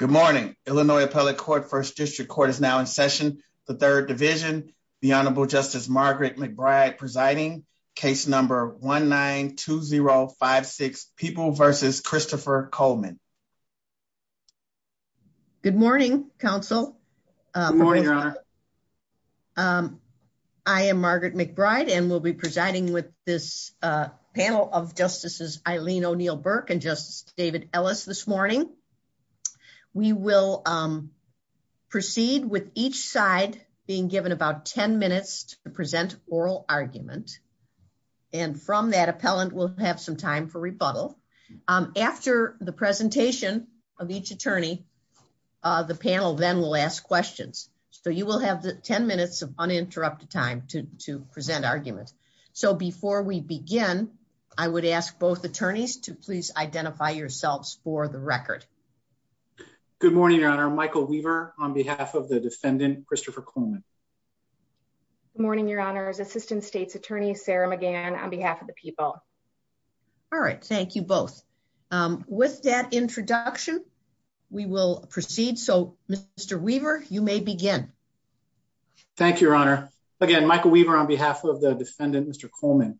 Good morning, Illinois Appellate Court, 1st District Court is now in session, the 3rd Division, the Honorable Justice Margaret McBride presiding, case number 1-9-2-0-5-6, People v. Christopher Coleman. Good morning, Counsel. Good morning, Your Honor. I am Margaret McBride and will be presiding with this panel of Justices Eileen O'Neill Burke and Justice David Ellis this morning. We will proceed with each side being given about 10 minutes to present oral argument. And from that appellant will have some time for rebuttal. After the presentation of each attorney, the panel then will ask questions. So you will have 10 minutes of uninterrupted time to present arguments. So before we begin, I would ask both attorneys to please identify yourselves for the record. Good morning, Your Honor. Michael Weaver on behalf of the defendant, Christopher Coleman. Good morning, Your Honor. Assistant State's Attorney, Sarah McGann on behalf of the people. All right. Thank you both. With that introduction, we will proceed. So, Mr. Weaver, you may begin. Thank you, Your Honor. Again, Michael Weaver on behalf of the defendant, Mr. Coleman.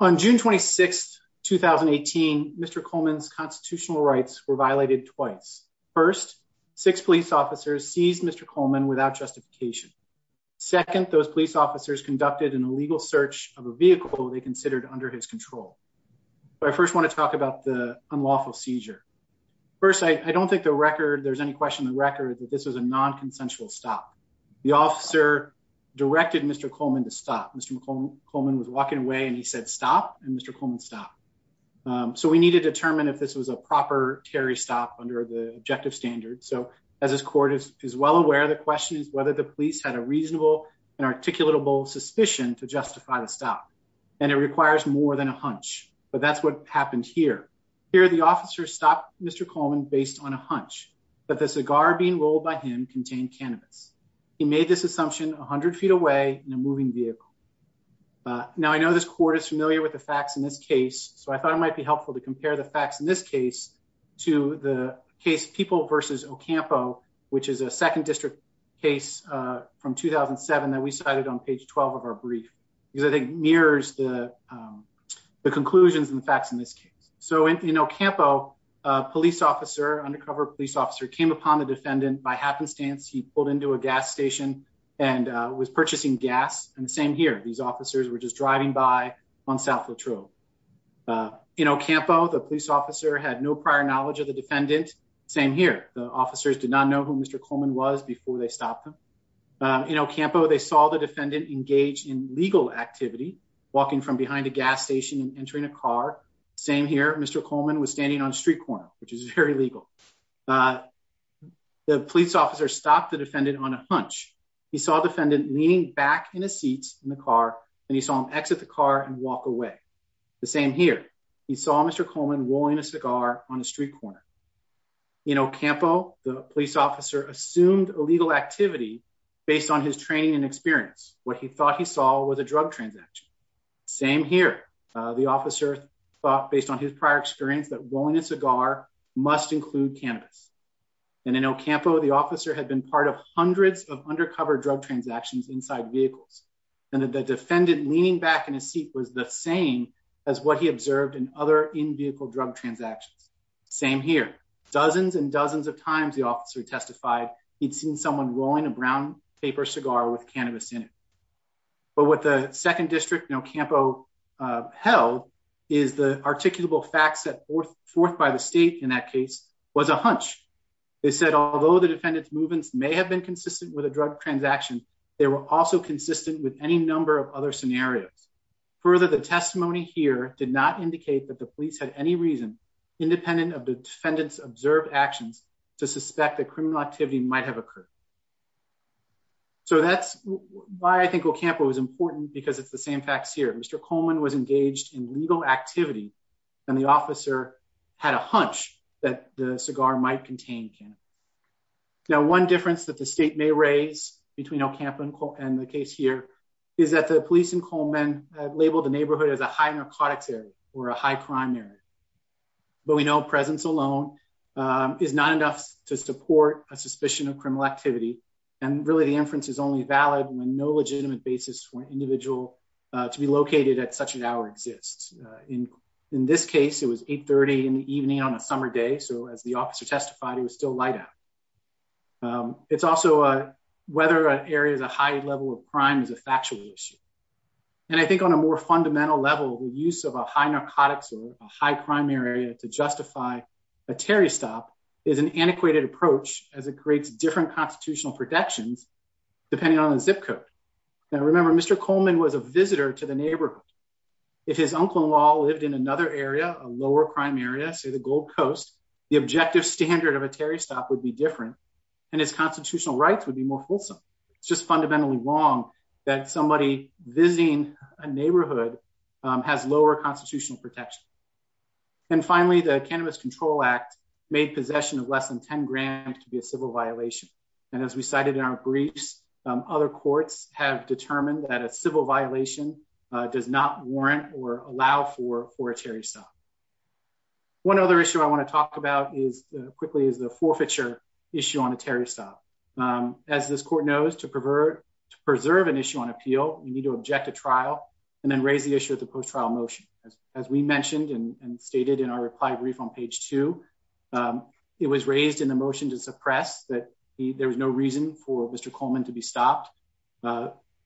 On June 26th, 2018, Mr. Coleman's constitutional rights were violated twice. First, six police officers seized Mr. Coleman without justification. Second, those police officers conducted an illegal search of a vehicle they considered under his control. I first want to talk about the unlawful seizure. First, I don't think the record there's any question the record that this is a non-consensual stop. The officer directed Mr. Coleman to stop. Mr. Coleman was walking away and he said stop. And Mr. Coleman stopped. So we need to determine if this was a proper carry stop under the objective standard. So as this court is well aware, the question is whether the police had a reasonable and articulatable suspicion to justify the stop. And it requires more than a hunch. But that's what happened here. Here, the officer stopped Mr. Coleman based on a hunch that the cigar being rolled by him contained cannabis. He made this assumption 100 feet away in a moving vehicle. Now, I know this court is familiar with the facts in this case, so I thought it might be helpful to compare the facts in this case to the case people versus Ocampo, which is a second district case from 2007 that we cited on page 12 of our brief because I think mirrors the conclusions and facts in this case. So in Ocampo, a police officer, undercover police officer came upon the defendant by happenstance. He pulled into a gas station and was purchasing gas. And the same here. These officers were just driving by on South Latrobe in Ocampo. The police officer had no prior knowledge of the defendant. Same here. The officers did not know who Mr. Coleman was before they stopped him in Ocampo. They saw the defendant engaged in legal activity, walking from behind a gas station and entering a car. Same here. Mr. Coleman was standing on a street corner, which is very legal. The police officer stopped the defendant on a hunch. He saw a defendant leaning back in a seat in the car and he saw him exit the car and walk away. The same here. He saw Mr. Coleman rolling a cigar on a street corner. In Ocampo, the police officer assumed illegal activity based on his training and experience. What he thought he saw was a drug transaction. Same here. The officer thought, based on his prior experience, that rolling a cigar must include cannabis. And in Ocampo, the officer had been part of hundreds of undercover drug transactions inside vehicles. And the defendant leaning back in a seat was the same as what he observed in other in-vehicle drug transactions. Same here. Dozens and dozens of times the officer testified he'd seen someone rolling a brown paper cigar with cannabis in it. But what the second district in Ocampo held is the articulable facts set forth by the state in that case was a hunch. They said, although the defendant's movements may have been consistent with a drug transaction, they were also consistent with any number of other scenarios. Further, the testimony here did not indicate that the police had any reason, independent of the defendant's observed actions, to suspect that criminal activity might have occurred. So that's why I think Ocampo was important, because it's the same facts here. Mr. Coleman was engaged in legal activity and the officer had a hunch that the cigar might contain cannabis. Now, one difference that the state may raise between Ocampo and the case here is that the police in Coleman labeled the neighborhood as a high narcotics area or a high crime area. But we know presence alone is not enough to support a suspicion of criminal activity. And really, the inference is only valid when no legitimate basis for an individual to be located at such an hour exists. In this case, it was 830 in the evening on a summer day. So as the officer testified, he was still light out. It's also whether an area is a high level of crime is a factual issue. And I think on a more fundamental level, the use of a high narcotics or a high crime area to justify a Terry stop is an antiquated approach as it creates different constitutional protections, depending on the zip code. Now, remember, Mr. Coleman was a visitor to the neighborhood. If his uncle-in-law lived in another area, a lower crime area, say the Gold Coast, the objective standard of a Terry stop would be different and his constitutional rights would be more fulsome. It's just fundamentally wrong that somebody visiting a neighborhood has lower constitutional protection. And finally, the Cannabis Control Act made possession of less than 10 grand to be a civil violation. And as we cited in our briefs, other courts have determined that a civil violation does not warrant or allow for a Terry stop. One other issue I want to talk about quickly is the forfeiture issue on a Terry stop. As this court knows, to preserve an issue on appeal, you need to object to trial and then raise the issue of the post-trial motion. As we mentioned and stated in our reply brief on page two, it was raised in the motion to suppress that there was no reason for Mr. Coleman to be stopped.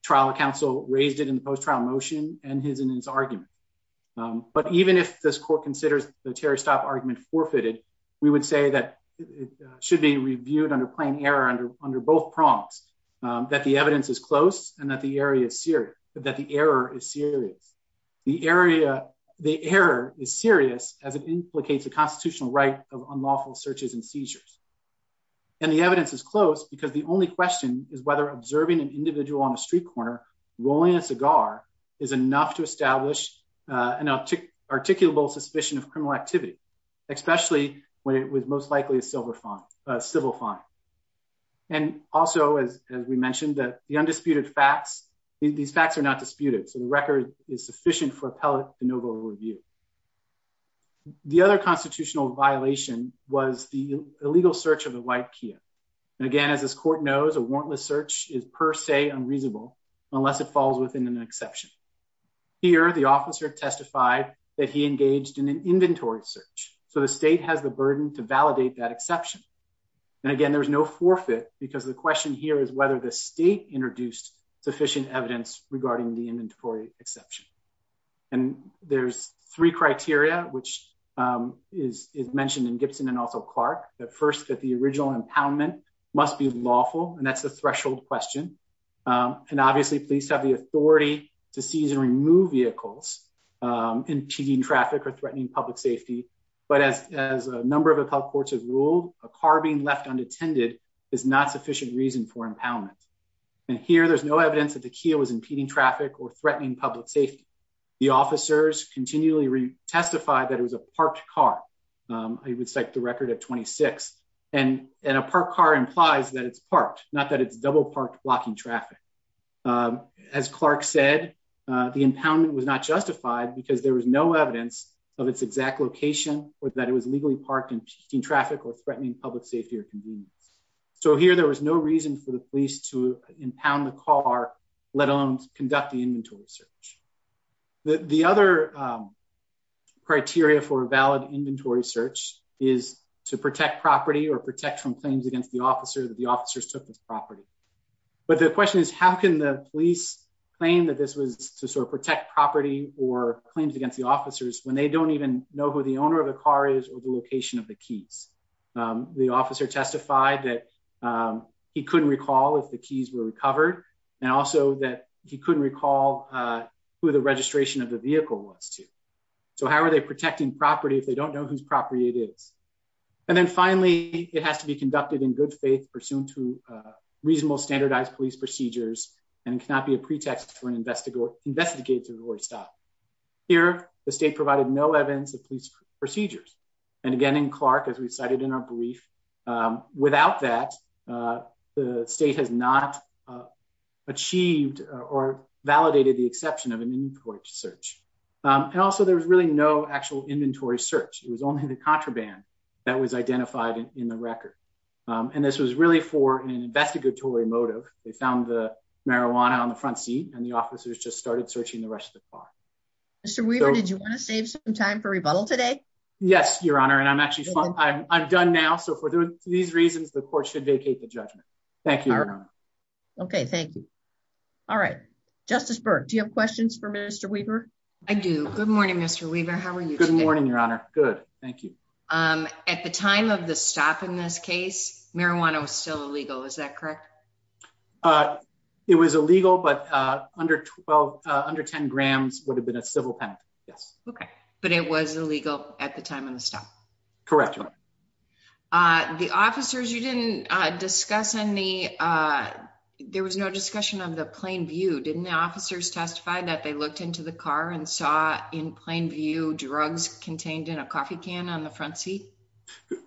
Trial counsel raised it in the post-trial motion and his argument. But even if this court considers the Terry stop argument forfeited, we would say that it should be reviewed under plain error under both prongs, that the evidence is close and that the error is serious. The error is serious as it implicates a constitutional right of unlawful searches and seizures. And the evidence is close because the only question is whether observing an individual on a street corner rolling a cigar is enough to establish an articulable suspicion of criminal activity, especially when it was most likely a civil fine. And also, as we mentioned, that the undisputed facts, these facts are not disputed, so the record is sufficient for appellate de novo review. The other constitutional violation was the illegal search of a white Kia. And again, as this court knows, a warrantless search is per se unreasonable unless it falls within an exception. Here, the officer testified that he engaged in an inventory search, so the state has the burden to validate that exception. There is no forfeit because the question here is whether the state introduced sufficient evidence regarding the inventory exception. And there's three criteria, which is mentioned in Gibson and also Clark, that first, that the original impoundment must be lawful, and that's the threshold question. And obviously, police have the authority to seize and remove vehicles impeding traffic or threatening public safety. But as a number of appellate courts have ruled, a car being left unattended is not sufficient reason for impoundment. And here, there's no evidence that the Kia was impeding traffic or threatening public safety. The officers continually testified that it was a parked car. I would cite the record at 26, and a parked car implies that it's parked, not that it's double parked blocking traffic. As Clark said, the impoundment was not justified because there was no evidence of its exact location or that it was legally parked impeding traffic or threatening public safety or convenience. So here, there was no reason for the police to impound the car, let alone conduct the inventory search. The other criteria for a valid inventory search is to protect property or protect from claims against the officer that the officers took this property. But the question is, how can the police claim that this was to sort of protect property or claims against the officers when they don't even know who the owner of the car is or the location of the keys? The officer testified that he couldn't recall if the keys were recovered, and also that he couldn't recall who the registration of the vehicle was to. So how are they protecting property if they don't know whose property it is? And then finally, it has to be conducted in good faith, pursuant to reasonable standardized police procedures, and cannot be a pretext for an investigatory stop. Here, the state provided no evidence of police procedures. And again, in Clark, as we cited in our brief, without that, the state has not achieved or validated the exception of an inventory search. And also, there was really no actual inventory search. It was only the contraband that was identified in the record. And this was really for an investigatory motive. They found the marijuana on the front seat, and the officers just started searching the rest of the car. Mr. Weaver, did you want to save some time for rebuttal today? Yes, Your Honor, and I'm actually done now. So for these reasons, the court should vacate the judgment. Thank you, Your Honor. Okay, thank you. All right. Justice Burke, do you have questions for Mr. Weaver? I do. Good morning, Mr. Weaver. How are you today? Good morning, Your Honor. Good. Thank you. At the time of the stop in this case, marijuana was still illegal. Is that correct? It was illegal, but under 10 grams would have been a civil penalty. Yes. Okay. But it was illegal at the time of the stop? Correct, Your Honor. There was no discussion of the plain view. Didn't the officers testify that they looked into the car and saw, in plain view, drugs contained in a coffee can on the front seat?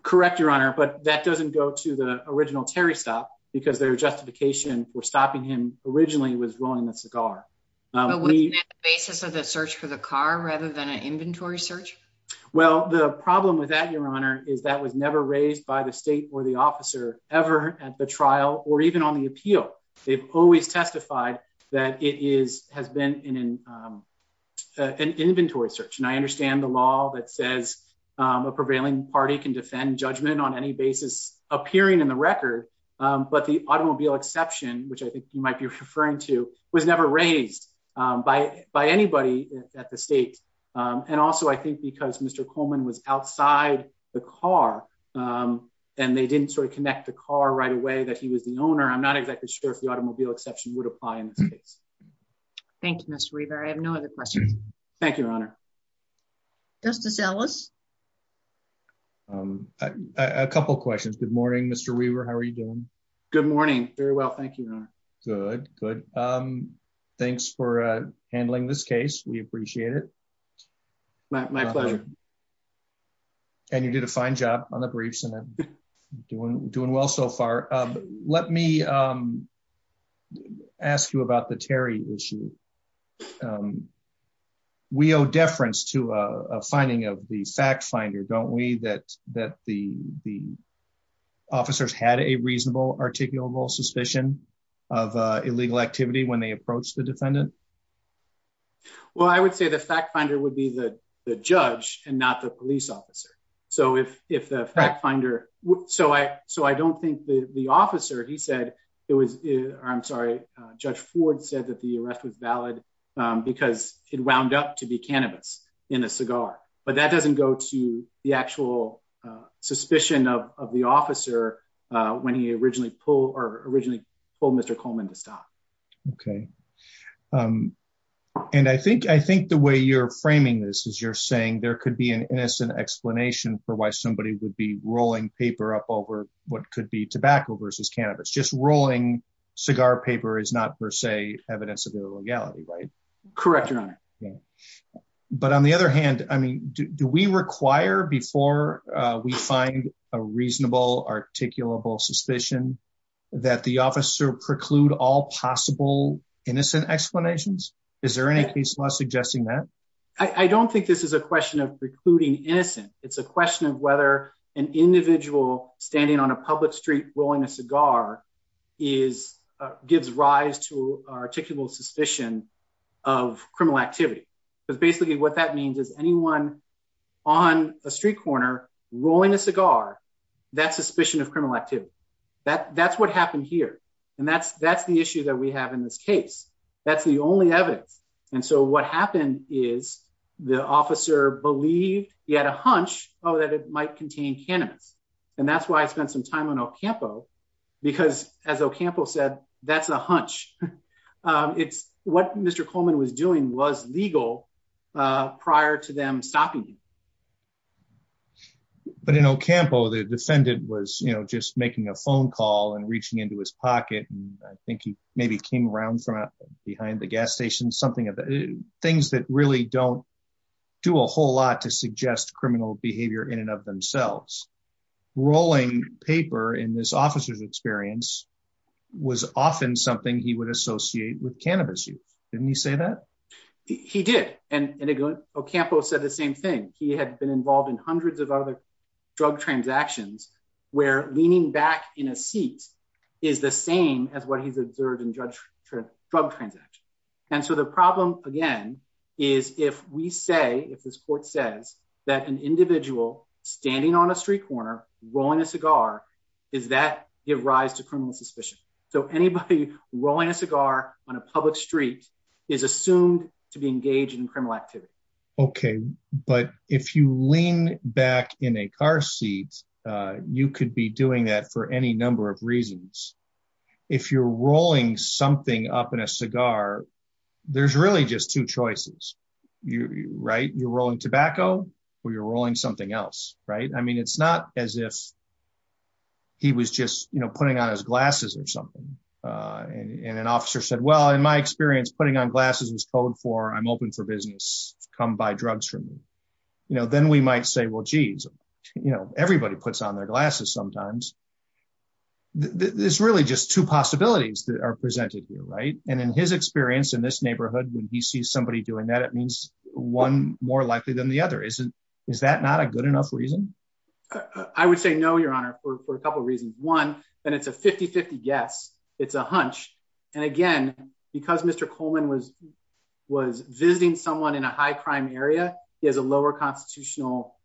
Correct, Your Honor, but that doesn't go to the original Terry stop because their justification for stopping him originally was rolling the cigar. But wasn't that the basis of the search for the car rather than an inventory search? Well, the problem with that, Your Honor, is that was never raised by the state or the officer ever at the trial or even on the appeal. They've always testified that it has been an inventory search. And I understand the law that says a prevailing party can defend judgment on any basis appearing in the record. But the automobile exception, which I think you might be referring to, was never raised by anybody at the state. And also, I think because Mr. Coleman was outside the car and they didn't sort of connect the car right away that he was the owner. I'm not exactly sure if the automobile exception would apply in this case. Thank you, Mr. Weaver. I have no other questions. Thank you, Your Honor. Justice Ellis? A couple of questions. Good morning, Mr. Weaver. How are you doing? Good morning. Very well. Thank you, Your Honor. Good, good. Thanks for handling this case. We appreciate it. My pleasure. And you did a fine job on the briefs and doing well so far. Let me ask you about the Terry issue. We owe deference to a finding of the fact finder, don't we, that the officers had a reasonable articulable suspicion of illegal activity when they approached the defendant? Well, I would say the fact finder would be the judge and not the police officer. So if the fact finder... So I don't think the officer, he said it was... I'm sorry, Judge Ford said that the arrest was valid because it wound up to be cannabis in a cigar. But that doesn't go to the actual suspicion of the officer when he originally pulled Mr. Coleman to stop. Okay. And I think the way you're framing this is you're saying there could be an innocent explanation for why somebody would be rolling paper up over what could be tobacco versus cannabis. Just rolling cigar paper is not per se evidence of illegality, right? Correct, Your Honor. But on the other hand, I mean, do we require before we find a reasonable articulable suspicion that the officer preclude all possible innocent explanations? Is there any case law suggesting that? I don't think this is a question of precluding innocent. It's a question of whether an individual standing on a public street rolling a cigar gives rise to articulable suspicion of criminal activity. Because basically what that means is anyone on a street corner rolling a cigar, that's suspicion of criminal activity. That's what happened here. And that's the issue that we have in this case. That's the only evidence. And so what happened is the officer believed he had a hunch that it might contain cannabis. And that's why I spent some time on Ocampo, because as Ocampo said, that's a hunch. It's what Mr. Coleman was doing was legal prior to them stopping him. But in Ocampo, the defendant was, you know, just making a phone call and reaching into his pocket. And I think he maybe came around from behind the gas station, something of the things that really don't do a whole lot to suggest criminal behavior in and of themselves. Rolling paper in this officer's experience was often something he would associate with cannabis use. Didn't he say that? He did. And Ocampo said the same thing. He had been involved in hundreds of other drug transactions where leaning back in a seat is the same as what he's observed in drug transactions. And so the problem, again, is if we say, if this court says that an individual standing on a street corner rolling a cigar, does that give rise to criminal suspicion? So anybody rolling a cigar on a public street is assumed to be engaged in criminal activity. OK, but if you lean back in a car seat, you could be doing that for any number of reasons. If you're rolling something up in a cigar, there's really just two choices. Right. You're rolling tobacco or you're rolling something else. Right. I mean, it's not as if. He was just, you know, putting on his glasses or something and an officer said, well, in my experience, putting on glasses is code for I'm open for business. Come buy drugs from me. You know, then we might say, well, geez, you know, everybody puts on their glasses sometimes. There's really just two possibilities that are presented here. Right. And in his experience in this neighborhood, when he sees somebody doing that, it means one more likely than the other. Is that not a good enough reason? I would say no, your honor, for a couple of reasons. One, then it's a 50-50 guess. It's a hunch. And again, because Mr. Coleman was was visiting someone in a high crime area, he has a lower constitutional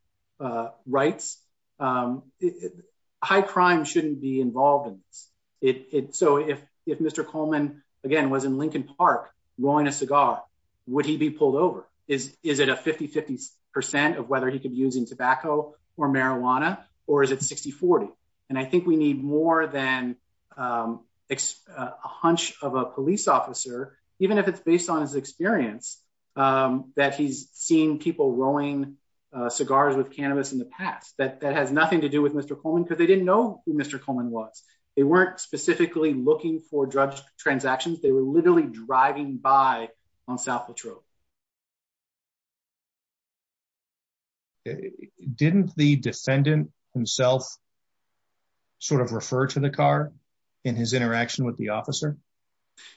rights. High crime shouldn't be involved in it. So if if Mr. Coleman again was in Lincoln Park rolling a cigar, would he be pulled over? Is is it a 50-50 percent of whether he could be using tobacco or marijuana or is it 60-40? And I think we need more than a hunch of a police officer, even if it's based on his experience, that he's seen people rolling cigars with cannabis in the past. That that has nothing to do with Mr. Coleman because they didn't know who Mr. Coleman was. They weren't specifically looking for drug transactions. They were literally driving by on South La Trobe. Didn't the defendant himself sort of refer to the car in his interaction with the officer?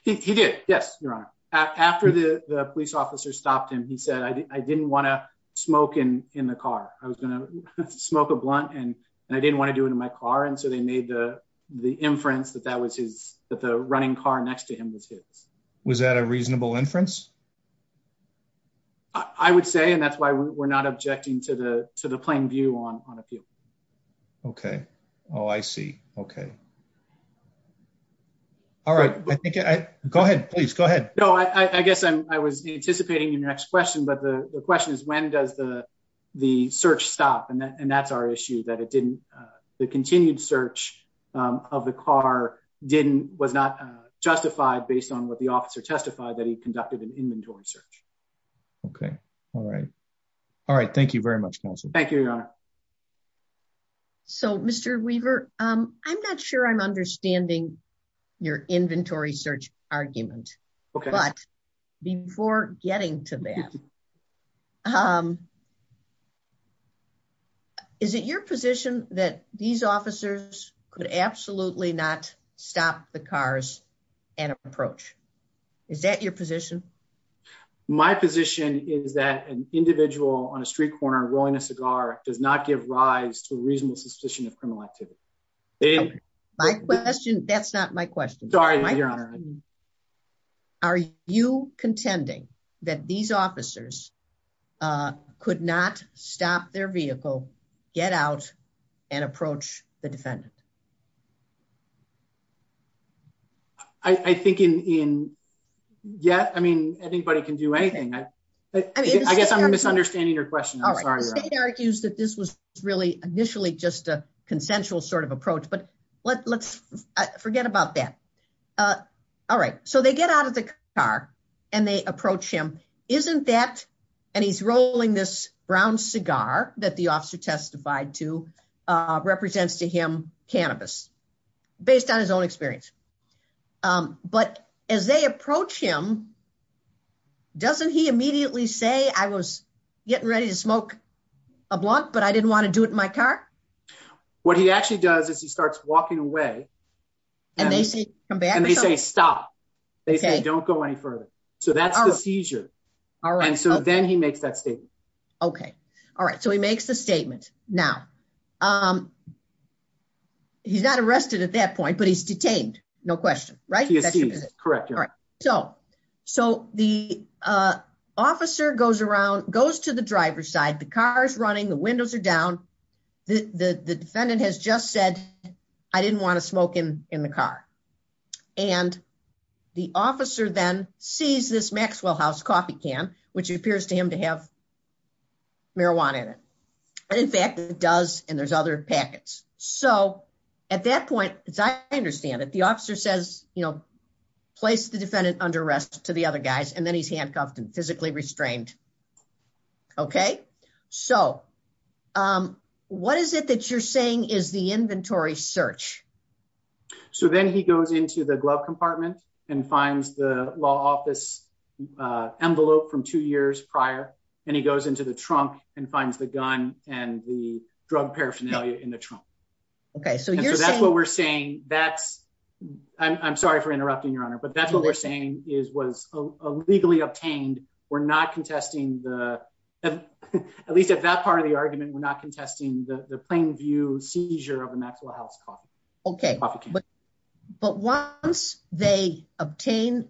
He did. Yes, your honor. After the police officer stopped him, he said, I didn't want to smoke in the car. I was going to smoke a blunt and I didn't want to do it in my car. And so they made the the inference that that was his that the running car next to him was his. Was that a reasonable inference? I would say, and that's why we're not objecting to the to the plain view on on a few. OK. Oh, I see. OK. All right. Go ahead, please. Go ahead. No, I guess I was anticipating your next question, but the question is, when does the the search stop? And that's our issue, that it didn't the continued search of the car didn't was not justified based on what the officer testified that he conducted an inventory search. OK. All right. All right. Thank you very much. Thank you. So, Mr. Weaver, I'm not sure I'm understanding your inventory search argument. But before getting to that, is it your position that these officers could absolutely not stop the cars and approach? Is that your position? My position is that an individual on a street corner rolling a cigar does not give rise to a reasonable suspicion of criminal activity. My question. That's not my question. Sorry. Are you contending that these officers could not stop their vehicle, get out and approach the defendant? I think in yet I mean, anybody can do anything. I guess I'm misunderstanding your question. The state argues that this was really initially just a consensual sort of approach. But let's forget about that. All right. So they get out of the car and they approach him. Isn't that and he's rolling this brown cigar that the officer testified to represents to him cannabis based on his own experience. But as they approach him, doesn't he immediately say, I was getting ready to smoke a blunt, but I didn't want to do it in my car. What he actually does is he starts walking away. And they say, come back. And they say, stop. They say, don't go any further. So that's the seizure. All right. So then he makes that statement. Okay. All right. So he makes the statement now. He's not arrested at that point, but he's detained. No question. Right. Correct. All right. So. So the officer goes around, goes to the driver's side, the car's running, the windows are down. The defendant has just said, I didn't want to smoke in the car. And the officer then sees this Maxwell House coffee can, which appears to him to have marijuana in it. And in fact, it does. And there's other packets. So at that point, as I understand it, the officer says, you know, place the defendant under arrest to the other guys. And then he's handcuffed and physically restrained. Okay, so what is it that you're saying is the inventory search? So then he goes into the glove compartment and finds the law office envelope from two years prior and he goes into the trunk and finds the gun and the drug paraphernalia in the trunk. Okay, so that's what we're saying. That's I'm sorry for interrupting, Your Honor, but that's what we're saying is was illegally obtained. We're not contesting the at least at that part of the argument. We're not contesting the plain view seizure of the Maxwell House coffee. Okay, but once they obtain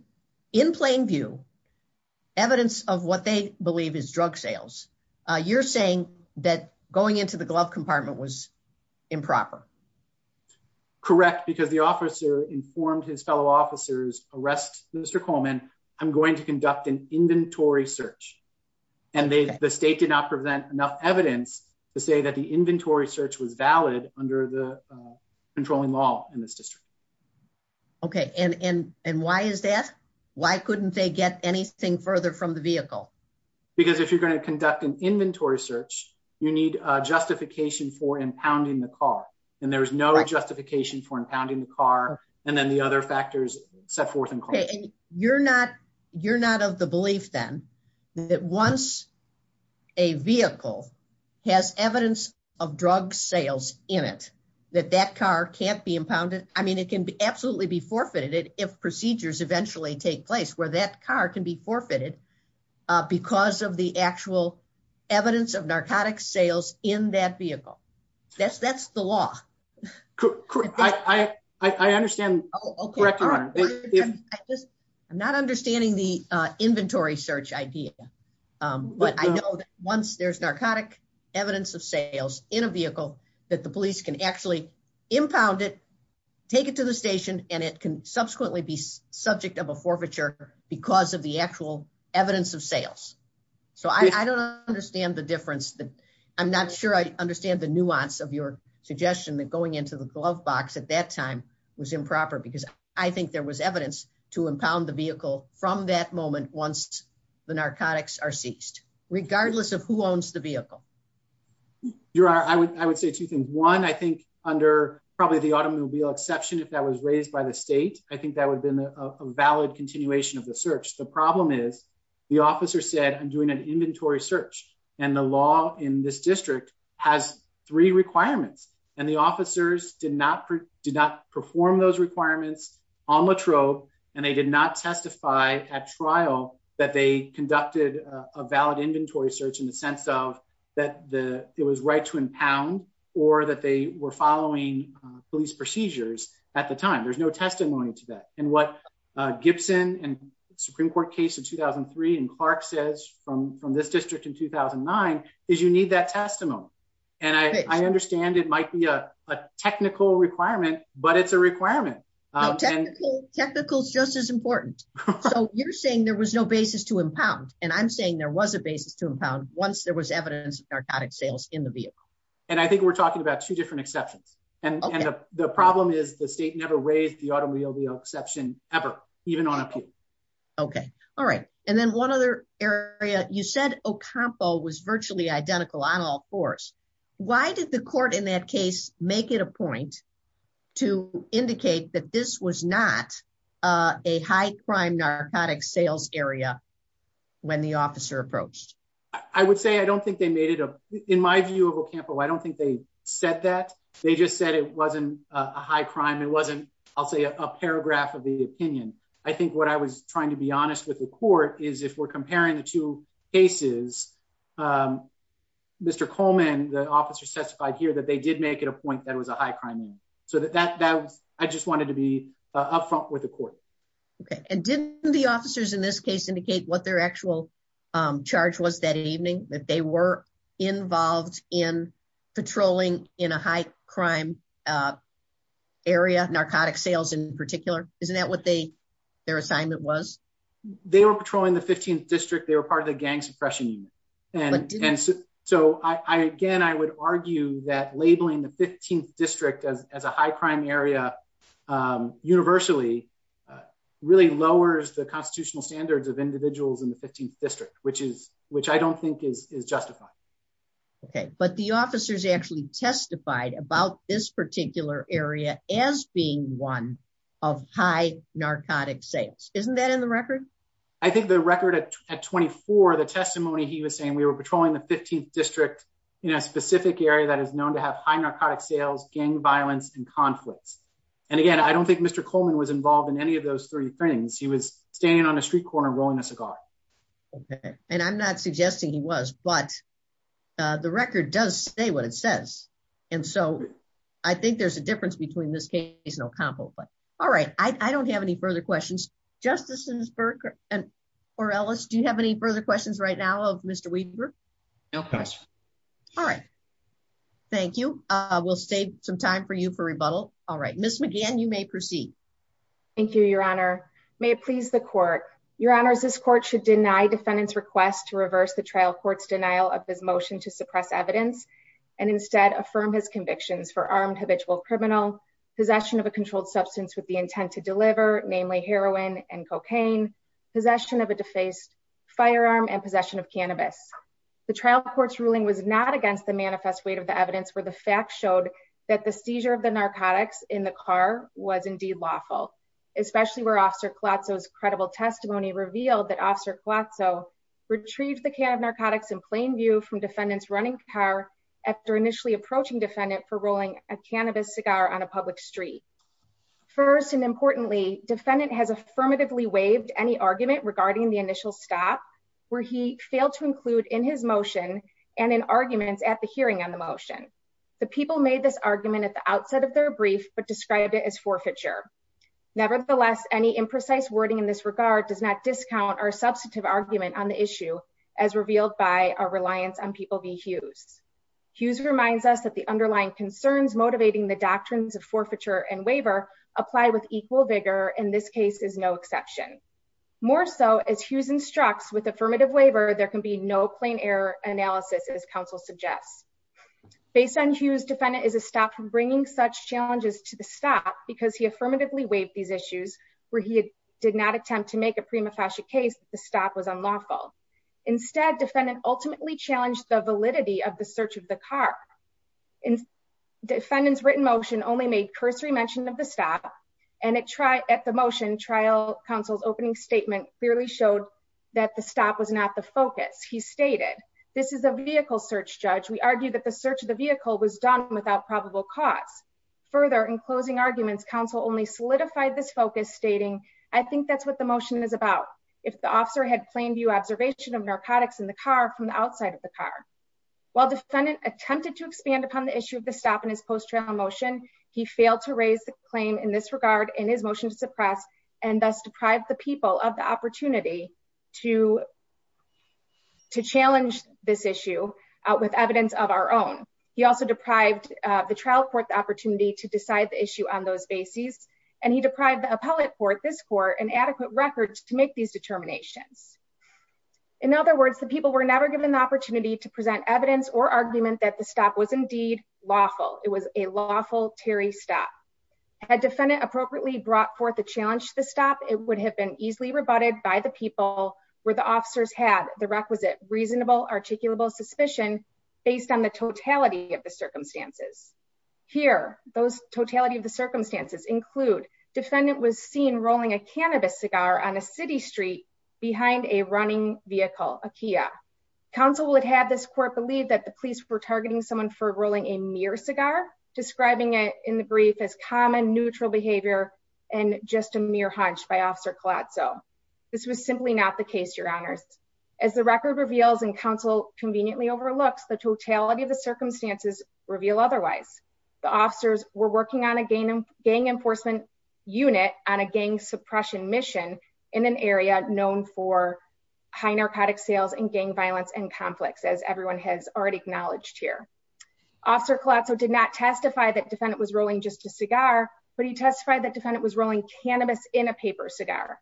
in plain view evidence of what they believe is drug sales, you're saying that going into the glove compartment was improper. Correct, because the officer informed his fellow officers arrest Mr. Coleman, I'm going to conduct an inventory search. And the state did not present enough evidence to say that the inventory search was valid under the controlling law in this district. Okay, and why is that? Why couldn't they get anything further from the vehicle? Because if you're going to conduct an inventory search, you need justification for impounding the car. And there was no justification for impounding the car. And then the other factors set forth in court. You're not of the belief then that once a vehicle has evidence of drug sales in it, that that car can't be impounded. I mean, it can absolutely be forfeited if procedures eventually take place where that car can be forfeited because of the actual evidence of narcotics sales in that vehicle. That's the law. I understand. I'm not understanding the inventory search idea. But I know that once there's narcotic evidence of sales in a vehicle that the police can actually impound it, take it to the station, and it can subsequently be subject of a forfeiture because of the actual evidence of sales. So I don't understand the difference. I'm not sure I understand the nuance of your suggestion that going into the glove box at that time was improper because I think there was evidence to impound the vehicle from that moment once the narcotics are seized, regardless of who owns the vehicle. I would say two things. One, I think under probably the automobile exception, if that was raised by the state, I think that would have been a valid continuation of the search. The problem is, the officer said, I'm doing an inventory search. And the law in this district has three requirements. And the officers did not perform those requirements on La Trobe, and they did not testify at trial that they conducted a valid inventory search in the sense of that it was right to impound or that they were following police procedures at the time. There's no testimony to that. And what Gibson and Supreme Court case in 2003 and Clark says from this district in 2009 is you need that testimony. And I understand it might be a technical requirement, but it's a requirement. Technical is just as important. So you're saying there was no basis to impound, and I'm saying there was a basis to impound once there was evidence of narcotic sales in the vehicle. And I think we're talking about two different exceptions. And the problem is the state never raised the automobile exception, ever, even on appeal. Okay. All right. And then one other area, you said Ocampo was virtually identical on all fours. Why did the court in that case, make it a point to indicate that this was not a high crime narcotics sales area. When the officer approached, I would say, I don't think they made it up in my view of Ocampo. I don't think they said that they just said it wasn't a high crime. It wasn't, I'll say a paragraph of the opinion. I think what I was trying to be honest with the court is if we're comparing the two cases. Mr. Coleman, the officer testified here that they did make it a point that it was a high crime. So that was, I just wanted to be upfront with the court. Okay. And didn't the officers in this case indicate what their actual charge was that evening, that they were involved in patrolling in a high crime area, narcotic sales in particular? Isn't that what they, their assignment was? They were patrolling the 15th district. They were part of the gang suppression unit. And so I, again, I would argue that labeling the 15th district as a high crime area universally really lowers the constitutional standards of individuals in the 15th district, which is, which I don't think is justified. Okay. But the officers actually testified about this particular area as being one of high narcotic sales. Isn't that in the record? I think the record at 24, the testimony he was saying, we were patrolling the 15th district in a specific area that is known to have high narcotic sales, gang violence, and conflicts. And again, I don't think Mr. Coleman was involved in any of those three things. He was standing on a street corner, rolling a cigar. Okay. And I'm not suggesting he was, but the record does say what it says. And so I think there's a difference between this case and Ocampo. All right. I don't have any further questions. Justices Burke or Ellis, do you have any further questions right now of Mr. Weaver? No questions. All right. Thank you. We'll save some time for you for rebuttal. All right. Ms. McGann, you may proceed. Thank you, Your Honor. May it please the court. Your Honors, this court should deny defendant's request to reverse the trial court's denial of his motion to suppress evidence and instead affirm his convictions for armed habitual criminal, possession of a controlled substance with the intent to deliver, namely heroin and cocaine, possession of a defaced firearm and possession of cannabis. The trial court's ruling was not against the manifest weight of the evidence where the facts showed that the seizure of the narcotics in the car was indeed lawful. Especially where Officer Colazzo's credible testimony revealed that Officer Colazzo retrieved the can of narcotics in plain view from defendant's running car after initially approaching defendant for rolling a cannabis cigar on a public street. First and importantly, defendant has affirmatively waived any argument regarding the initial stop where he failed to include in his motion and in arguments at the hearing on the motion. The people made this argument at the outset of their brief but described it as forfeiture. Nevertheless, any imprecise wording in this regard does not discount our substantive argument on the issue as revealed by our reliance on people v. Hughes. Hughes reminds us that the underlying concerns motivating the doctrines of forfeiture and waiver apply with equal vigor and this case is no exception. More so, as Hughes instructs, with affirmative waiver there can be no plain error analysis as counsel suggests. Based on Hughes, defendant is a stop from bringing such challenges to the stop because he affirmatively waived these issues where he did not attempt to make a prima facie case that the stop was unlawful. Instead, defendant ultimately challenged the validity of the search of the car. Defendant's written motion only made cursory mention of the stop and at the motion, trial counsel's opening statement clearly showed that the stop was not the focus. He stated, this is a vehicle search, judge. We argue that the search of the vehicle was done without probable cause. Further, in closing arguments, counsel only solidified this focus stating, I think that's what the motion is about. If the officer had plain view observation of narcotics in the car from the outside of the car. While defendant attempted to expand upon the issue of the stop in his post-trial motion, he failed to raise the claim in this regard in his motion to suppress and thus deprive the people of the opportunity to challenge this issue with evidence of our own. He also deprived the trial court the opportunity to decide the issue on those bases. And he deprived the appellate court, this court, an adequate record to make these determinations. In other words, the people were never given the opportunity to present evidence or argument that the stop was indeed lawful. It was a lawful Terry stop. Had defendant appropriately brought forth the challenge to the stop, it would have been easily rebutted by the people where the officers had the requisite reasonable articulable suspicion based on the totality of the circumstances. Here, those totality of the circumstances include defendant was seen rolling a cannabis cigar on a city street behind a running vehicle, a Kia. Counsel would have this court believe that the police were targeting someone for rolling a mere cigar, describing it in the brief as common neutral behavior, and just a mere hunch by Officer Collazo. This was simply not the case, your honors. As the record reveals and counsel conveniently overlooks the totality of the circumstances reveal otherwise. The officers were working on a gang enforcement unit on a gang suppression mission in an area known for high narcotic sales and gang violence and conflicts as everyone has already acknowledged here. Officer Collazo did not testify that defendant was rolling just a cigar, but he testified that defendant was rolling cannabis in a paper cigar.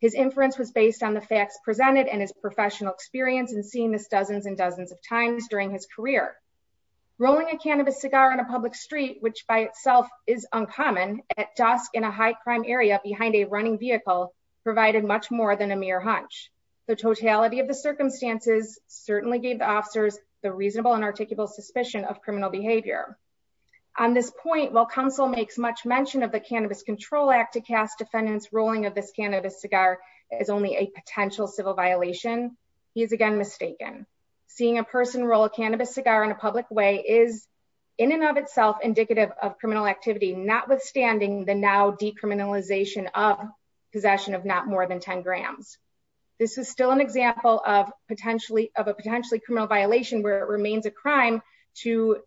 His inference was based on the facts presented and his professional experience and seeing this dozens and dozens of times during his career. Rolling a cannabis cigar in a public street, which by itself is uncommon at dusk in a high crime area behind a running vehicle provided much more than a mere hunch. The totality of the circumstances certainly gave the officers the reasonable and articulable suspicion of criminal behavior. On this point, while counsel makes much mention of the Cannabis Control Act to cast defendants rolling of this cannabis cigar is only a potential civil violation. He is again mistaken. Seeing a person roll a cannabis cigar in a public way is in and of itself indicative of criminal activity, notwithstanding the now decriminalization of possession of not more than 10 grams. This is still an example of potentially of a potentially criminal violation where it remains a crime to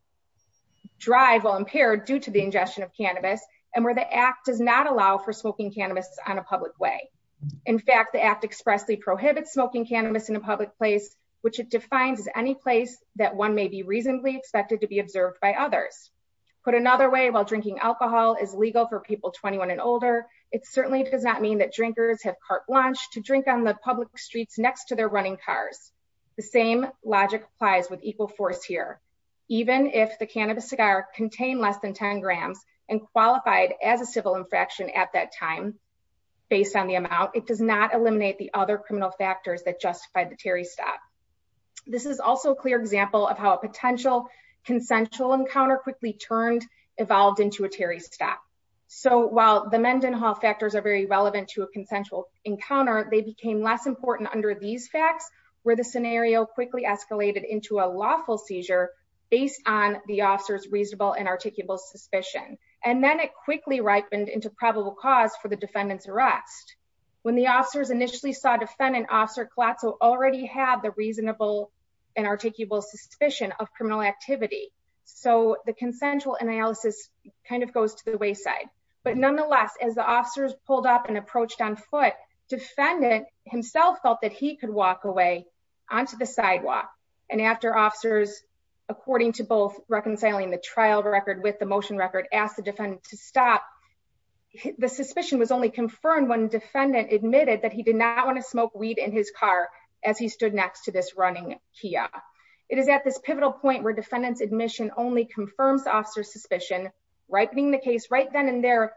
drive while impaired due to the ingestion of cannabis and where the act does not allow for smoking cannabis on a public way. In fact, the act expressly prohibits smoking cannabis in a public place, which it defines as any place that one may be reasonably expected to be observed by others. Put another way, while drinking alcohol is legal for people 21 and older, it certainly does not mean that drinkers have carte blanche to drink on the public streets next to their running cars. The same logic applies with equal force here. Even if the cannabis cigar contain less than 10 grams and qualified as a civil infraction at that time, based on the amount, it does not eliminate the other criminal factors that justified the Terry stop. This is also a clear example of how a potential consensual encounter quickly turned evolved into a Terry stop. So while the Mendenhall factors are very relevant to a consensual encounter, they became less important under these facts where the scenario quickly escalated into a lawful seizure based on the officers reasonable and articulable suspicion. And then it quickly ripened into probable cause for the defendants arrest. When the officers initially saw defendant officer Colasso already have the reasonable and articulable suspicion of criminal activity. So the consensual analysis kind of goes to the wayside. But nonetheless, as the officers pulled up and approached on foot, defendant himself felt that he could walk away onto the sidewalk. And after officers, according to both reconciling the trial record with the motion record asked the defendant to stop the suspicion was only confirmed when defendant admitted that he did not want to smoke weed in his car, as he stood next to this running Kia. It is at this pivotal point where defendants admission only confirms officer suspicion, right being the case right then and there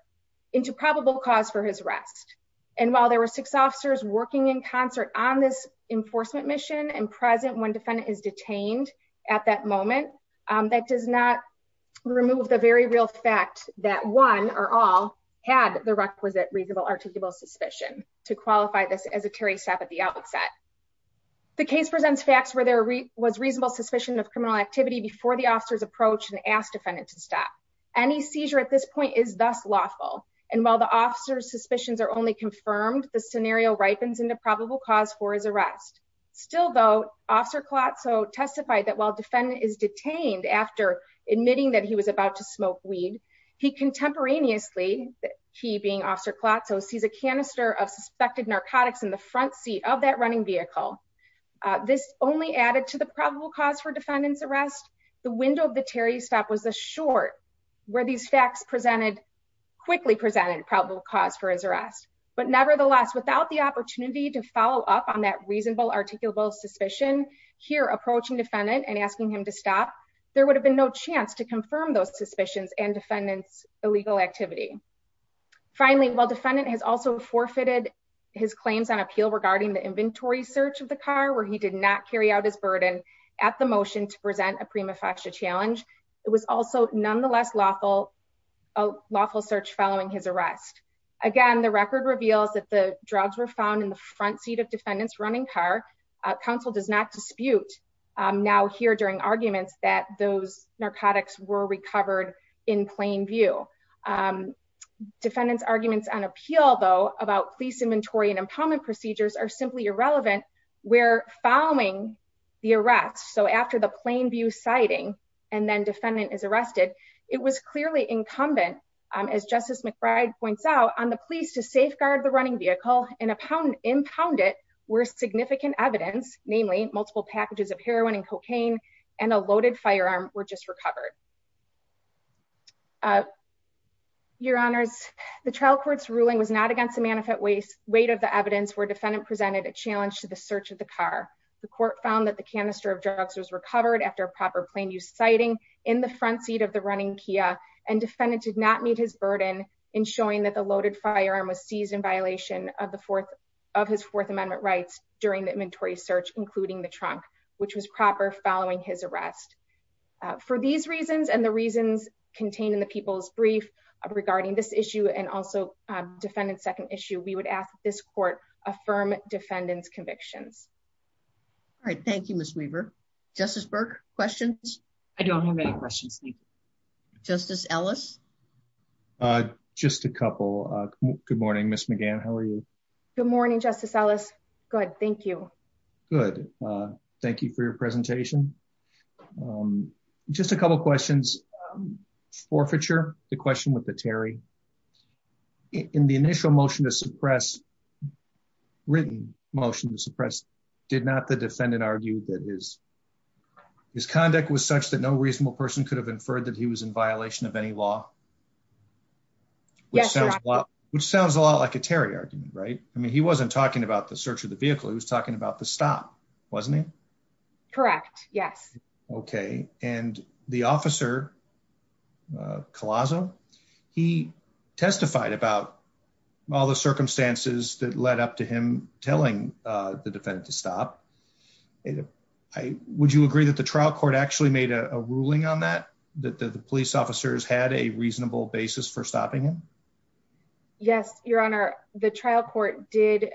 into probable cause for his rest. And while there were six officers working in concert on this enforcement mission and present when defendant is detained at that moment. That does not remove the very real fact that one or all had the requisite reasonable articulable suspicion to qualify this as a Terry stop at the outset. The case presents facts where there was reasonable suspicion of criminal activity before the officers approach and ask defendant to stop any seizure at this point is thus lawful. And while the officers suspicions are only confirmed the scenario ripens into probable cause for his arrest. Still though, officer clot so testified that while defendant is detained after admitting that he was about to smoke weed. He contemporaneously, he being officer clot so sees a canister of suspected narcotics in the front seat of that running vehicle. This only added to the probable cause for defendants arrest the window of the Terry stop was a short where these facts presented quickly presented probable cause for his arrest. But nevertheless, without the opportunity to follow up on that reasonable articulable suspicion here approaching defendant and asking him to stop there would have been no chance to confirm those suspicions and defendants illegal activity. Finally, while defendant has also forfeited his claims on appeal regarding the inventory search of the car where he did not carry out his burden at the motion to present a prima facie challenge. It was also nonetheless lawful lawful search following his arrest. Again, the record reveals that the drugs were found in the front seat of defendants running car council does not dispute. Now here during arguments that those narcotics were recovered in plain view defendants arguments on appeal though about police inventory and empowerment procedures are simply irrelevant. We're following the arrest. So after the plain view sighting and then defendant is arrested. It was clearly incumbent as Justice McBride points out on the police to safeguard the running vehicle and a pound impounded were significant evidence, namely multiple packages of heroin and cocaine and a loaded firearm were just recovered. Your honors, the trial courts ruling was not against the manifest waste weight of the evidence where defendant presented a challenge to the search of the car. The court found that the canister of drugs was recovered after proper plain use sighting in the front seat of the running Kia and defendant did not meet his burden in showing that the loaded firearm was seized in violation of the fourth of his Fourth Amendment rights during the inventory search, including the trunk, which was proper following his arrest. For these reasons and the reasons contained in the people's brief regarding this issue and also defendants second issue we would ask this court, affirm defendants convictions. All right, thank you, Miss Weaver, Justice Burke questions. I don't have any questions. Justice Ellis. Just a couple. Good morning Miss McGann How are you. Good morning Justice Ellis. Good. Thank you. Good. Thank you for your presentation. Just a couple questions forfeiture, the question with the Terry. In the initial motion to suppress written motion to suppress did not the defendant argued that his, his conduct was such that no reasonable person could have inferred that he was in violation of any law. Yes. Well, which sounds a lot like a Terry argument right i mean he wasn't talking about the search of the vehicle he was talking about the stop, wasn't it. Correct. Yes. Okay. And the officer colossal. He testified about all the circumstances that led up to him, telling the defendant to stop. Would you agree that the trial court actually made a ruling on that, that the police officers had a reasonable basis for stopping him. Yes, Your Honor, the trial court did,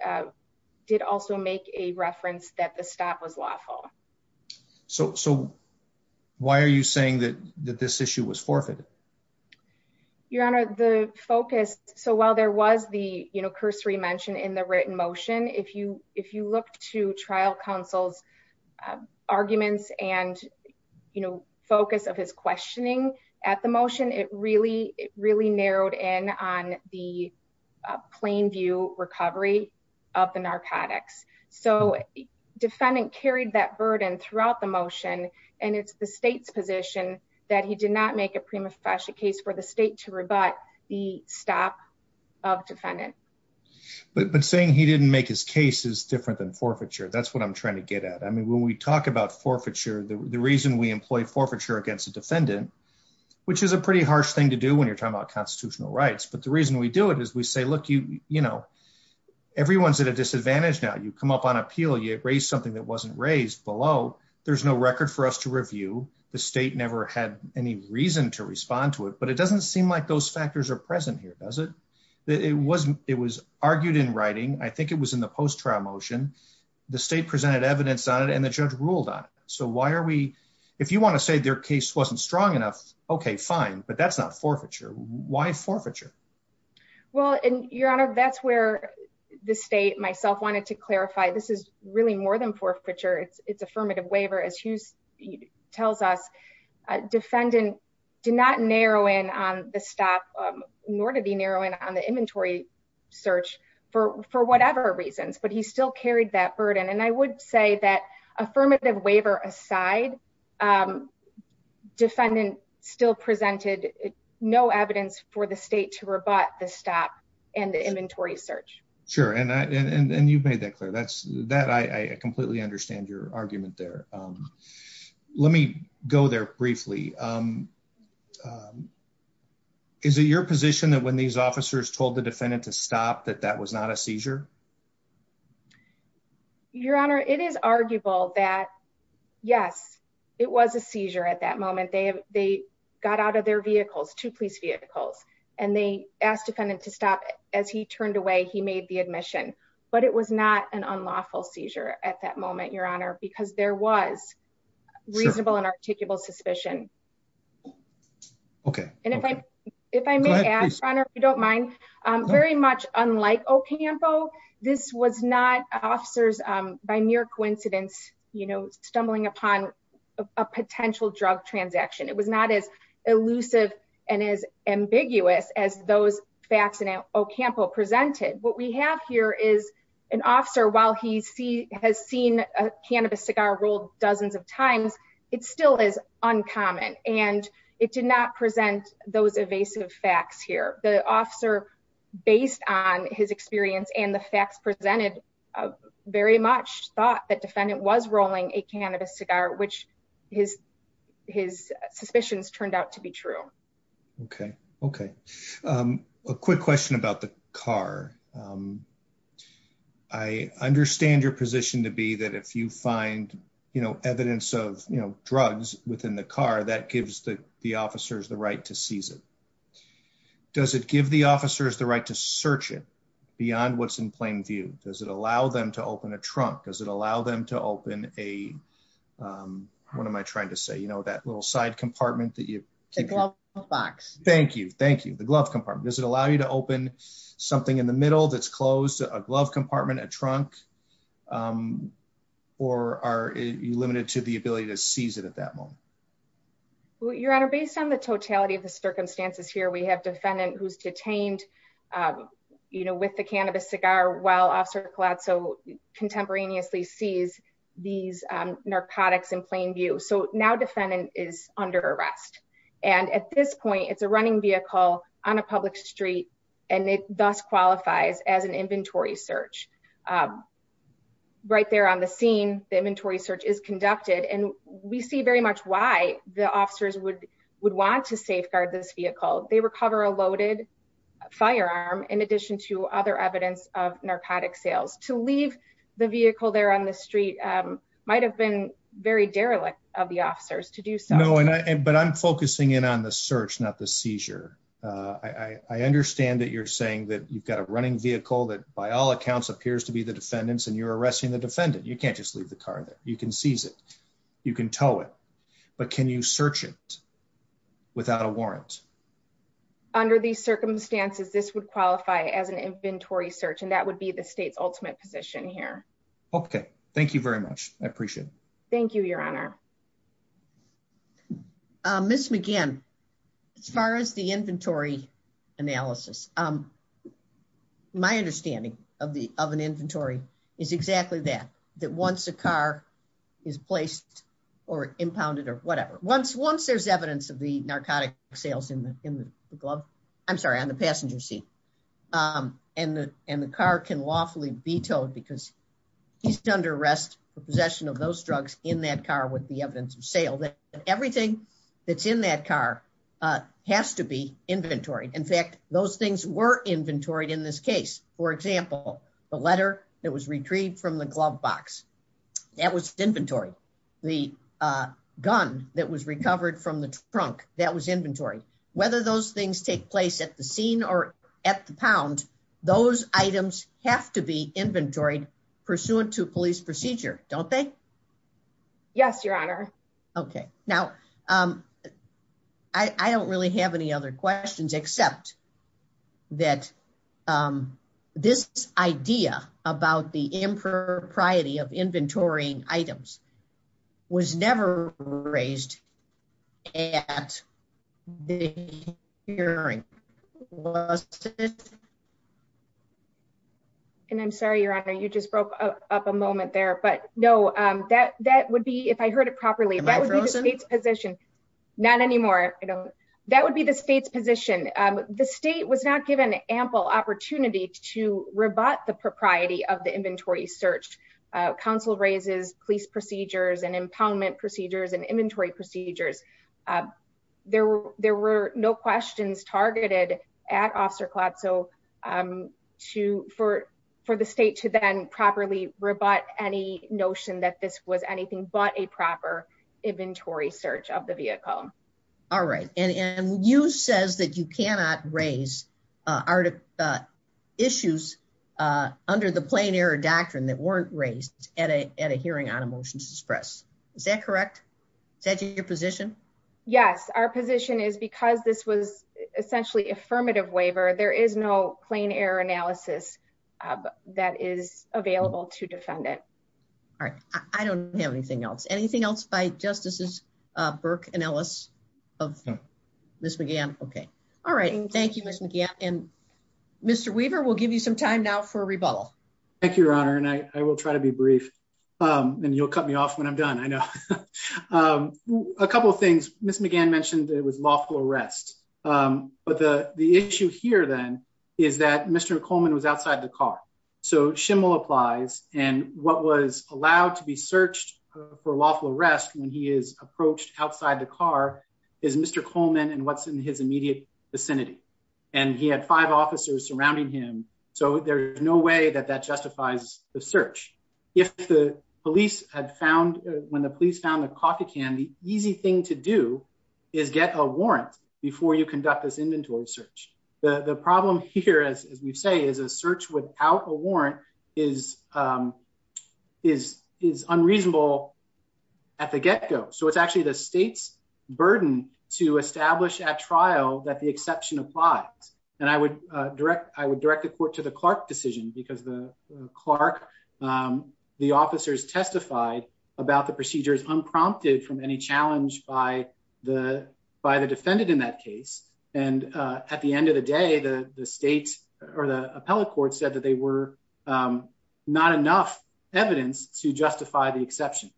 did also make a reference that the stop was lawful. So, so why are you saying that that this issue was forfeited. Your Honor, the focus. So while there was the, you know, cursory mentioned in the written motion if you, if you look to trial counsel's arguments and, you know, focus of his questioning at the motion it really, really narrowed in on the plain view recovery of the narcotics. So, defendant carried that burden throughout the motion, and it's the state's position that he did not make a prima facie case for the state to rebut the stop of defendant, but saying he didn't make his cases different than forfeiture is we say look you, you know, everyone's at a disadvantage now you come up on appeal you raise something that wasn't raised below. There's no record for us to review the state never had any reason to respond to it but it doesn't seem like those factors are present here does it. It wasn't, it was argued in writing, I think it was in the post trial motion, the state presented evidence on it and the judge ruled on. So why are we, if you want to say their case wasn't strong enough. Okay, fine, but that's not forfeiture. Why forfeiture. Well, and Your Honor, that's where the state myself wanted to clarify this is really more than forfeiture it's it's affirmative waiver as he tells us, defendant, do not narrow in on the stop, nor to be narrowing on the inventory search for for whatever reasons, but he still carried that burden and I would say that affirmative waiver aside, defendant, still presented no evidence for the state to rebut the stop and the inventory search. Sure, and I and you've made that clear that's that I completely understand your argument there. Let me go there briefly. Is it your position that when these officers told the defendant to stop that that was not a seizure. Your Honor, it is arguable that, yes, it was a seizure at that moment they have, they got out of their vehicles to police vehicles, and they asked defendant to stop it as he turned away he made the admission, but it was not an unlawful seizure at that moment Your Honor, because there was reasonable and articulable suspicion. Okay. And if I, if I may ask Your Honor, if you don't mind, very much unlike Ocampo, this was not officers by mere coincidence, you know, stumbling upon a potential drug transaction it was not as elusive, and as ambiguous as those facts and Ocampo presented what we have here is an officer while he see has seen a cannabis cigar rolled dozens of times. It still is uncommon, and it did not present those evasive facts here, the officer, based on his experience and the facts presented very much thought that defendant was rolling a cannabis cigar which his, his suspicions turned out to be true. Okay. Okay. A quick question about the car. I understand your position to be that if you find, you know, evidence of, you know, drugs within the car that gives the, the officers the right to seize it. Does it give the officers the right to search it beyond what's in plain view, does it allow them to open a trunk does it allow them to open a. What am I trying to say you know that little side compartment that you can box, thank you, thank you, the glove compartment does it allow you to open something in the middle that's closed a glove compartment a trunk, or are you limited to the ability to seize it at that moment. Your Honor, based on the totality of the circumstances here we have defendant who's detained. You know with the cannabis cigar well officer collateral contemporaneously sees these narcotics in plain view so now defendant is under arrest. And at this point it's a running vehicle on a public street, and it does qualifies as an inventory search right there on the scene, the inventory search is conducted and we see very much why the officers would would want to safeguard this vehicle, they recover a loaded firearm, in addition to other evidence of narcotic sales to leave the vehicle there on the street might have been very derelict of the officers to do so and but I'm focusing in on the search not the seizure. I understand that you're saying that you've got a running vehicle that by all accounts appears to be the defendants and you're arresting the defendant you can't just leave the car there, you can seize it. You can tell it. But can you search it without a warrant. Under these circumstances, this would qualify as an inventory search and that would be the state's ultimate position here. Okay, thank you very much. I appreciate. Thank you, Your Honor. Miss McGann. As far as the inventory analysis. My understanding of the oven inventory is exactly that, that once a car is placed or impounded or whatever once once there's evidence of the narcotic sales in the, in the glove. I'm sorry on the passenger seat. And, and the car can lawfully vetoed because he's done to arrest the possession of those drugs in that car with the evidence of sale that everything that's in that car has to be inventory. In fact, those things were inventoried in this case, for example, the letter that was retrieved from the glove box. That was inventory. The gun that was recovered from the trunk that was inventory, whether those things take place at the scene or at the pound those items have to be inventoried pursuant to police procedure, don't they. Yes, Your Honor. Okay, now, I don't really have any other questions except that. This idea about the impropriety of inventory items was never raised at the hearing. And I'm sorry, Your Honor, you just broke up a moment there but no, that that would be if I heard it properly. Not anymore. That would be the state's position. The state was not given ample opportunity to rebut the propriety of the inventory search council raises police procedures and impoundment procedures and inventory procedures. There were there were no questions targeted at Officer Klotz so to for for the state to then properly rebut any notion that this was anything but a proper inventory search of the vehicle. All right. And you says that you cannot raise our issues under the plain error doctrine that weren't raised at a hearing on a motion to express. Is that correct. Is that your position. Yes, our position is because this was essentially affirmative waiver, there is no plain error analysis that is available to defend it. All right. I don't have anything else anything else by Justices Burke and Ellis of Miss McGann. Okay. All right. Thank you, Miss McGann and Mr Weaver will give you some time now for rebuttal. Thank you, Your Honor, and I will try to be brief, and you'll cut me off when I'm done I know a couple of things, Miss McGann mentioned it was lawful arrest. But the, the issue here then is that Mr Coleman was outside the car. So shimmel applies, and what was allowed to be searched for lawful arrest when he is approached outside the car is Mr Coleman and what's in his immediate vicinity. And he had five officers surrounding him. So there's no way that that justifies the search. If the police had found when the police found the coffee can the easy thing to do is get a warrant before you conduct this inventory search. The problem here as we say is a search without a warrant is, is, is unreasonable. At the get go so it's actually the state's burden to establish at trial that the exception applies, and I would direct I would direct the court to the Clark decision because the Clark. The officers testified about the procedures unprompted from any challenge by the by the defendant in that case, and at the end of the day the state or the appellate court said that they were not enough evidence to justify the exception.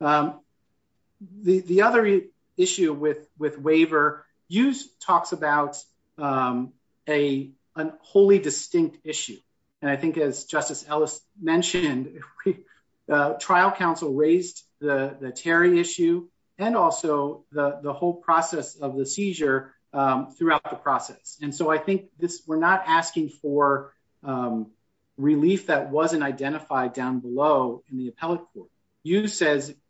The other issue with with waiver use talks about a, a wholly distinct issue. And I think as Justice Ellis mentioned, trial counsel raised the Terry issue, and also the the whole process of the seizure throughout the process and so I think this we're not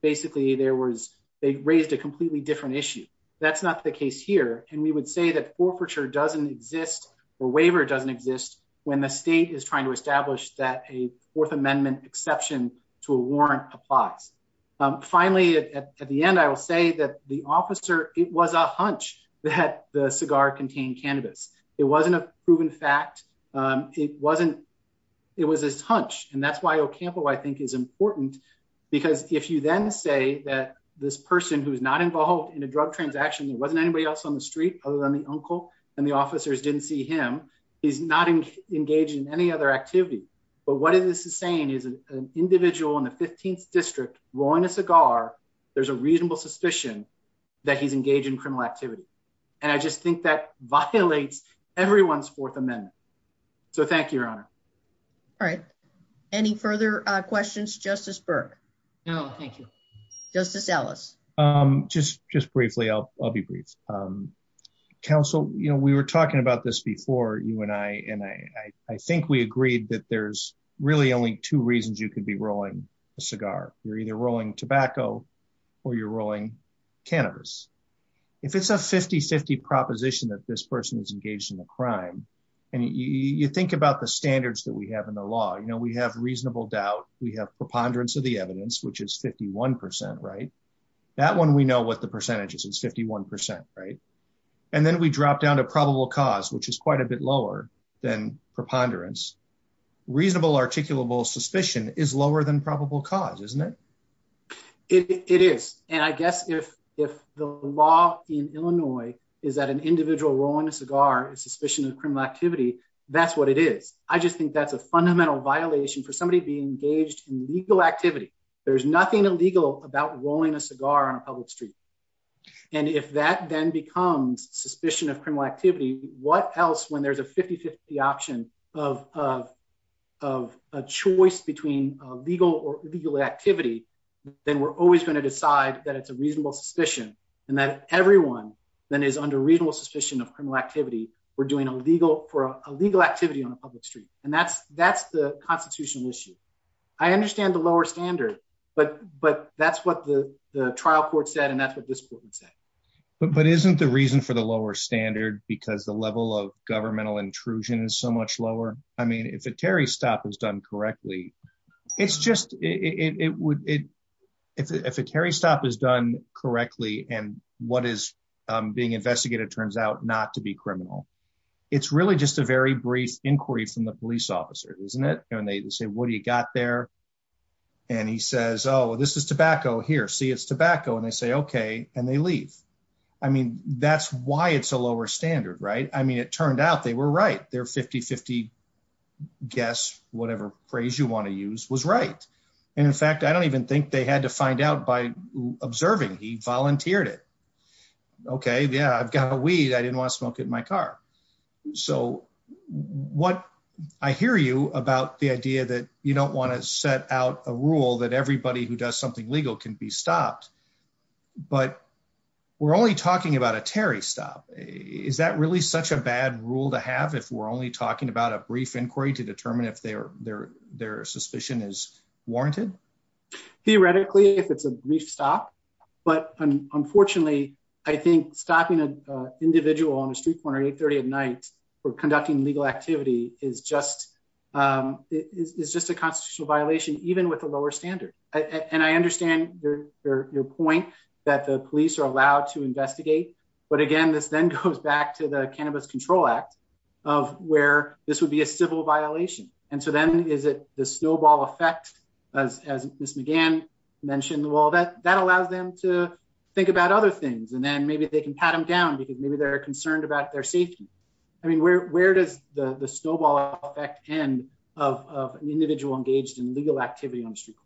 basically there was a raised a completely different issue. That's not the case here, and we would say that forfeiture doesn't exist, or waiver doesn't exist when the state is trying to establish that a Fourth Amendment exception to a warrant applies. Finally, at the end I will say that the officer, it was a hunch that the cigar contained cannabis. It wasn't a proven fact. It wasn't. It was this hunch, and that's why Ocampo I think is important, because if you then say that this person who's not involved in a drug transaction there wasn't anybody else on the street, other than the uncle, and the officers didn't see him. He's not engaged in any other activity. But what is this is saying is an individual in the 15th district, rolling a cigar. There's a reasonable suspicion that he's engaged in criminal activity. And I just think that violates everyone's Fourth Amendment. So thank you, Your Honor. All right. Any further questions Justice Burke. Oh, thank you. Justice Ellis. Just, just briefly I'll, I'll be brief. Counsel, you know we were talking about this before you and I and I think we agreed that there's really only two reasons you could be rolling a cigar, you're either rolling tobacco, or you're rolling cannabis. If it's a 5050 proposition that this person is engaged in a crime. And you think about the standards that we have in the law you know we have reasonable doubt, we have preponderance of the evidence which is 51% right. That one we know what the percentages and 51%, right. And then we drop down to probable cause which is quite a bit lower than preponderance reasonable articulable suspicion is lower than probable cause isn't it. It is, and I guess if, if the law in Illinois, is that an individual rolling a cigar suspicion of criminal activity. That's what it is. I just think that's a fundamental violation for somebody being engaged in legal activity. There's nothing illegal about rolling a cigar on a public street. And if that then becomes suspicion of criminal activity, what else when there's a 5050 option of, of, of a choice between legal or legal activity, then we're always going to decide that it's a reasonable suspicion, and that everyone that is under reasonable suspicion of criminal activity, we're doing a legal for a legal activity on a public street, and that's, that's the constitutional issue. I understand the lower standard, but, but that's what the trial court said and that's what this would say, but but isn't the reason for the lower standard because the level of governmental intrusion is so much lower. I mean if a Terry stop is done correctly. It's just, it would. If a Terry stop is done correctly and what is being investigated turns out not to be criminal. It's really just a very brief inquiry from the police officer, isn't it, and they say what do you got there. And he says oh this is tobacco here see it's tobacco and they say okay, and they leave. I mean, that's why it's a lower standard right i mean it turned out they were right there 5050 guess, whatever phrase you want to use was right. And in fact I don't even think they had to find out by observing he volunteered it. Okay, yeah I've got a weed I didn't want to smoke in my car. So, what I hear you about the idea that you don't want to set out a rule that everybody who does something legal can be stopped. But we're only talking about a Terry stop. Is that really such a bad rule to have if we're only talking about a brief inquiry to determine if they are there, their suspicion is warranted. Theoretically, if it's a brief stop. But unfortunately, I think stopping an individual on the street corner 830 at night for conducting legal activity is just is just a constitutional violation, even with a lower standard, and I understand your, your mentioned the wall that that allows them to think about other things and then maybe they can pat them down because maybe they're concerned about their safety. I mean where where does the the snowball effect and of individual engaged in legal activity on the street.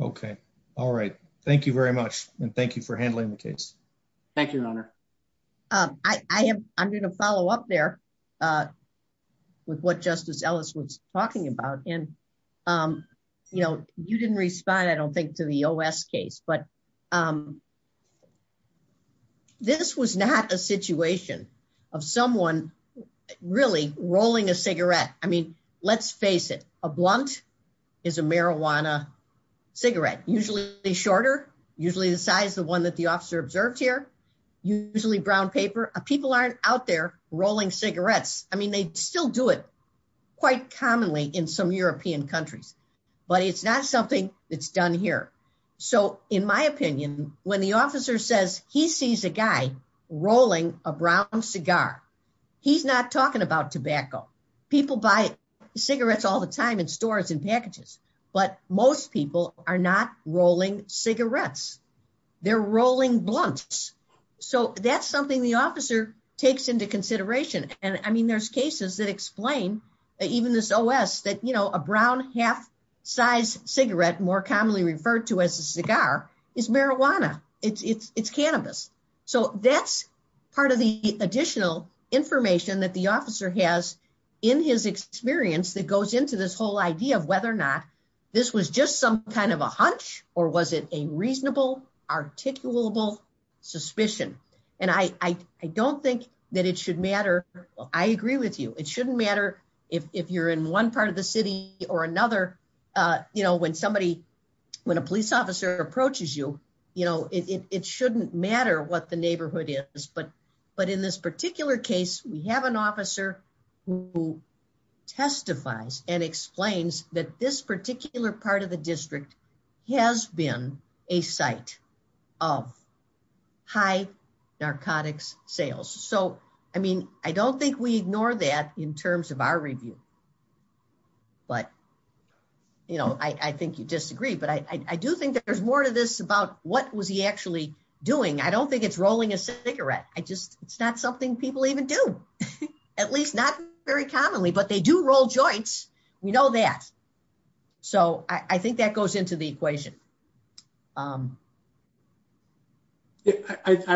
Okay. All right. Thank you very much, and thank you for handling the case. Thank you, Your Honor. I am, I'm going to follow up there. With what Justice Ellis was talking about and, you know, you didn't respond I don't think to the OS case but This was not a situation of someone really rolling a cigarette. I mean, let's face it, a blunt is a marijuana cigarette, usually the shorter, usually the size, the one that the officer observed here. Usually brown paper, people aren't out there rolling cigarettes. I mean they still do it quite commonly in some European countries, but it's not something that's done here. So, in my opinion, when the officer says he sees a guy rolling a brown cigar. He's not talking about tobacco. People buy cigarettes all the time in stores and packages, but most people are not rolling cigarettes. They're rolling blunts. So that's something the officer takes into consideration. And I mean, there's cases that explain even this OS that, you know, a brown half size cigarette more commonly referred to as a cigar is marijuana. Yeah, it's cannabis. So that's part of the additional information that the officer has in his experience that goes into this whole idea of whether or not this was just some kind of a hunch, or was it a reasonable articulable suspicion. And I don't think that it should matter. I agree with you. It shouldn't matter if you're in one part of the city or another, you know, when somebody, when a police officer approaches you, you know, it shouldn't matter what the neighborhood is. But in this particular case, we have an officer who testifies and explains that this particular part of the district has been a site of high narcotics sales. So, I mean, I don't think we ignore that in terms of our review. But, you know, I think you disagree, but I do think there's more to this about what was he actually doing. I don't think it's rolling a cigarette. I just, it's not something people even do, at least not very commonly, but they do roll joints. We know that. So I think that goes into the equation. I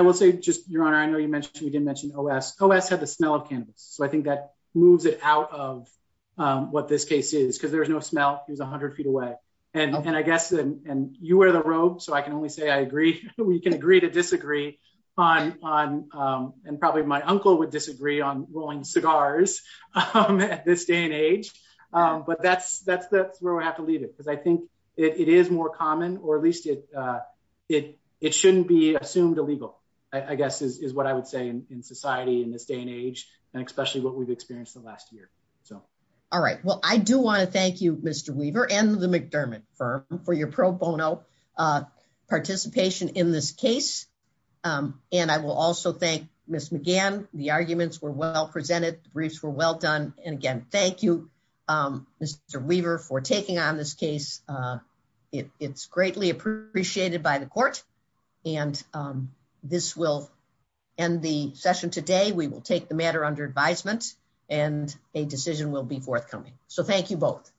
will say just, Your Honor, I know you mentioned, we didn't mention OS. OS had the smell of cannabis. So I think that moves it out of what this case is, because there's no smell. He was 100 feet away. And I guess, and you wear the robe, so I can only say I agree. We can agree to disagree on, and probably my uncle would disagree on rolling cigars at this day and age. But that's where we have to leave it, because I think it is more common, or at least it shouldn't be assumed illegal, I guess, is what I would say in society in this day and age, and especially what we've experienced the last year. All right, well, I do want to thank you, Mr. Weaver and the McDermott firm for your pro bono participation in this case. And I will also thank Ms. McGann. The arguments were well presented. Briefs were well done. And again, thank you, Mr. Weaver for taking on this case. It's greatly appreciated by the court. And this will end the session today. We will take the matter under advisement and a decision will be forthcoming. So thank you both.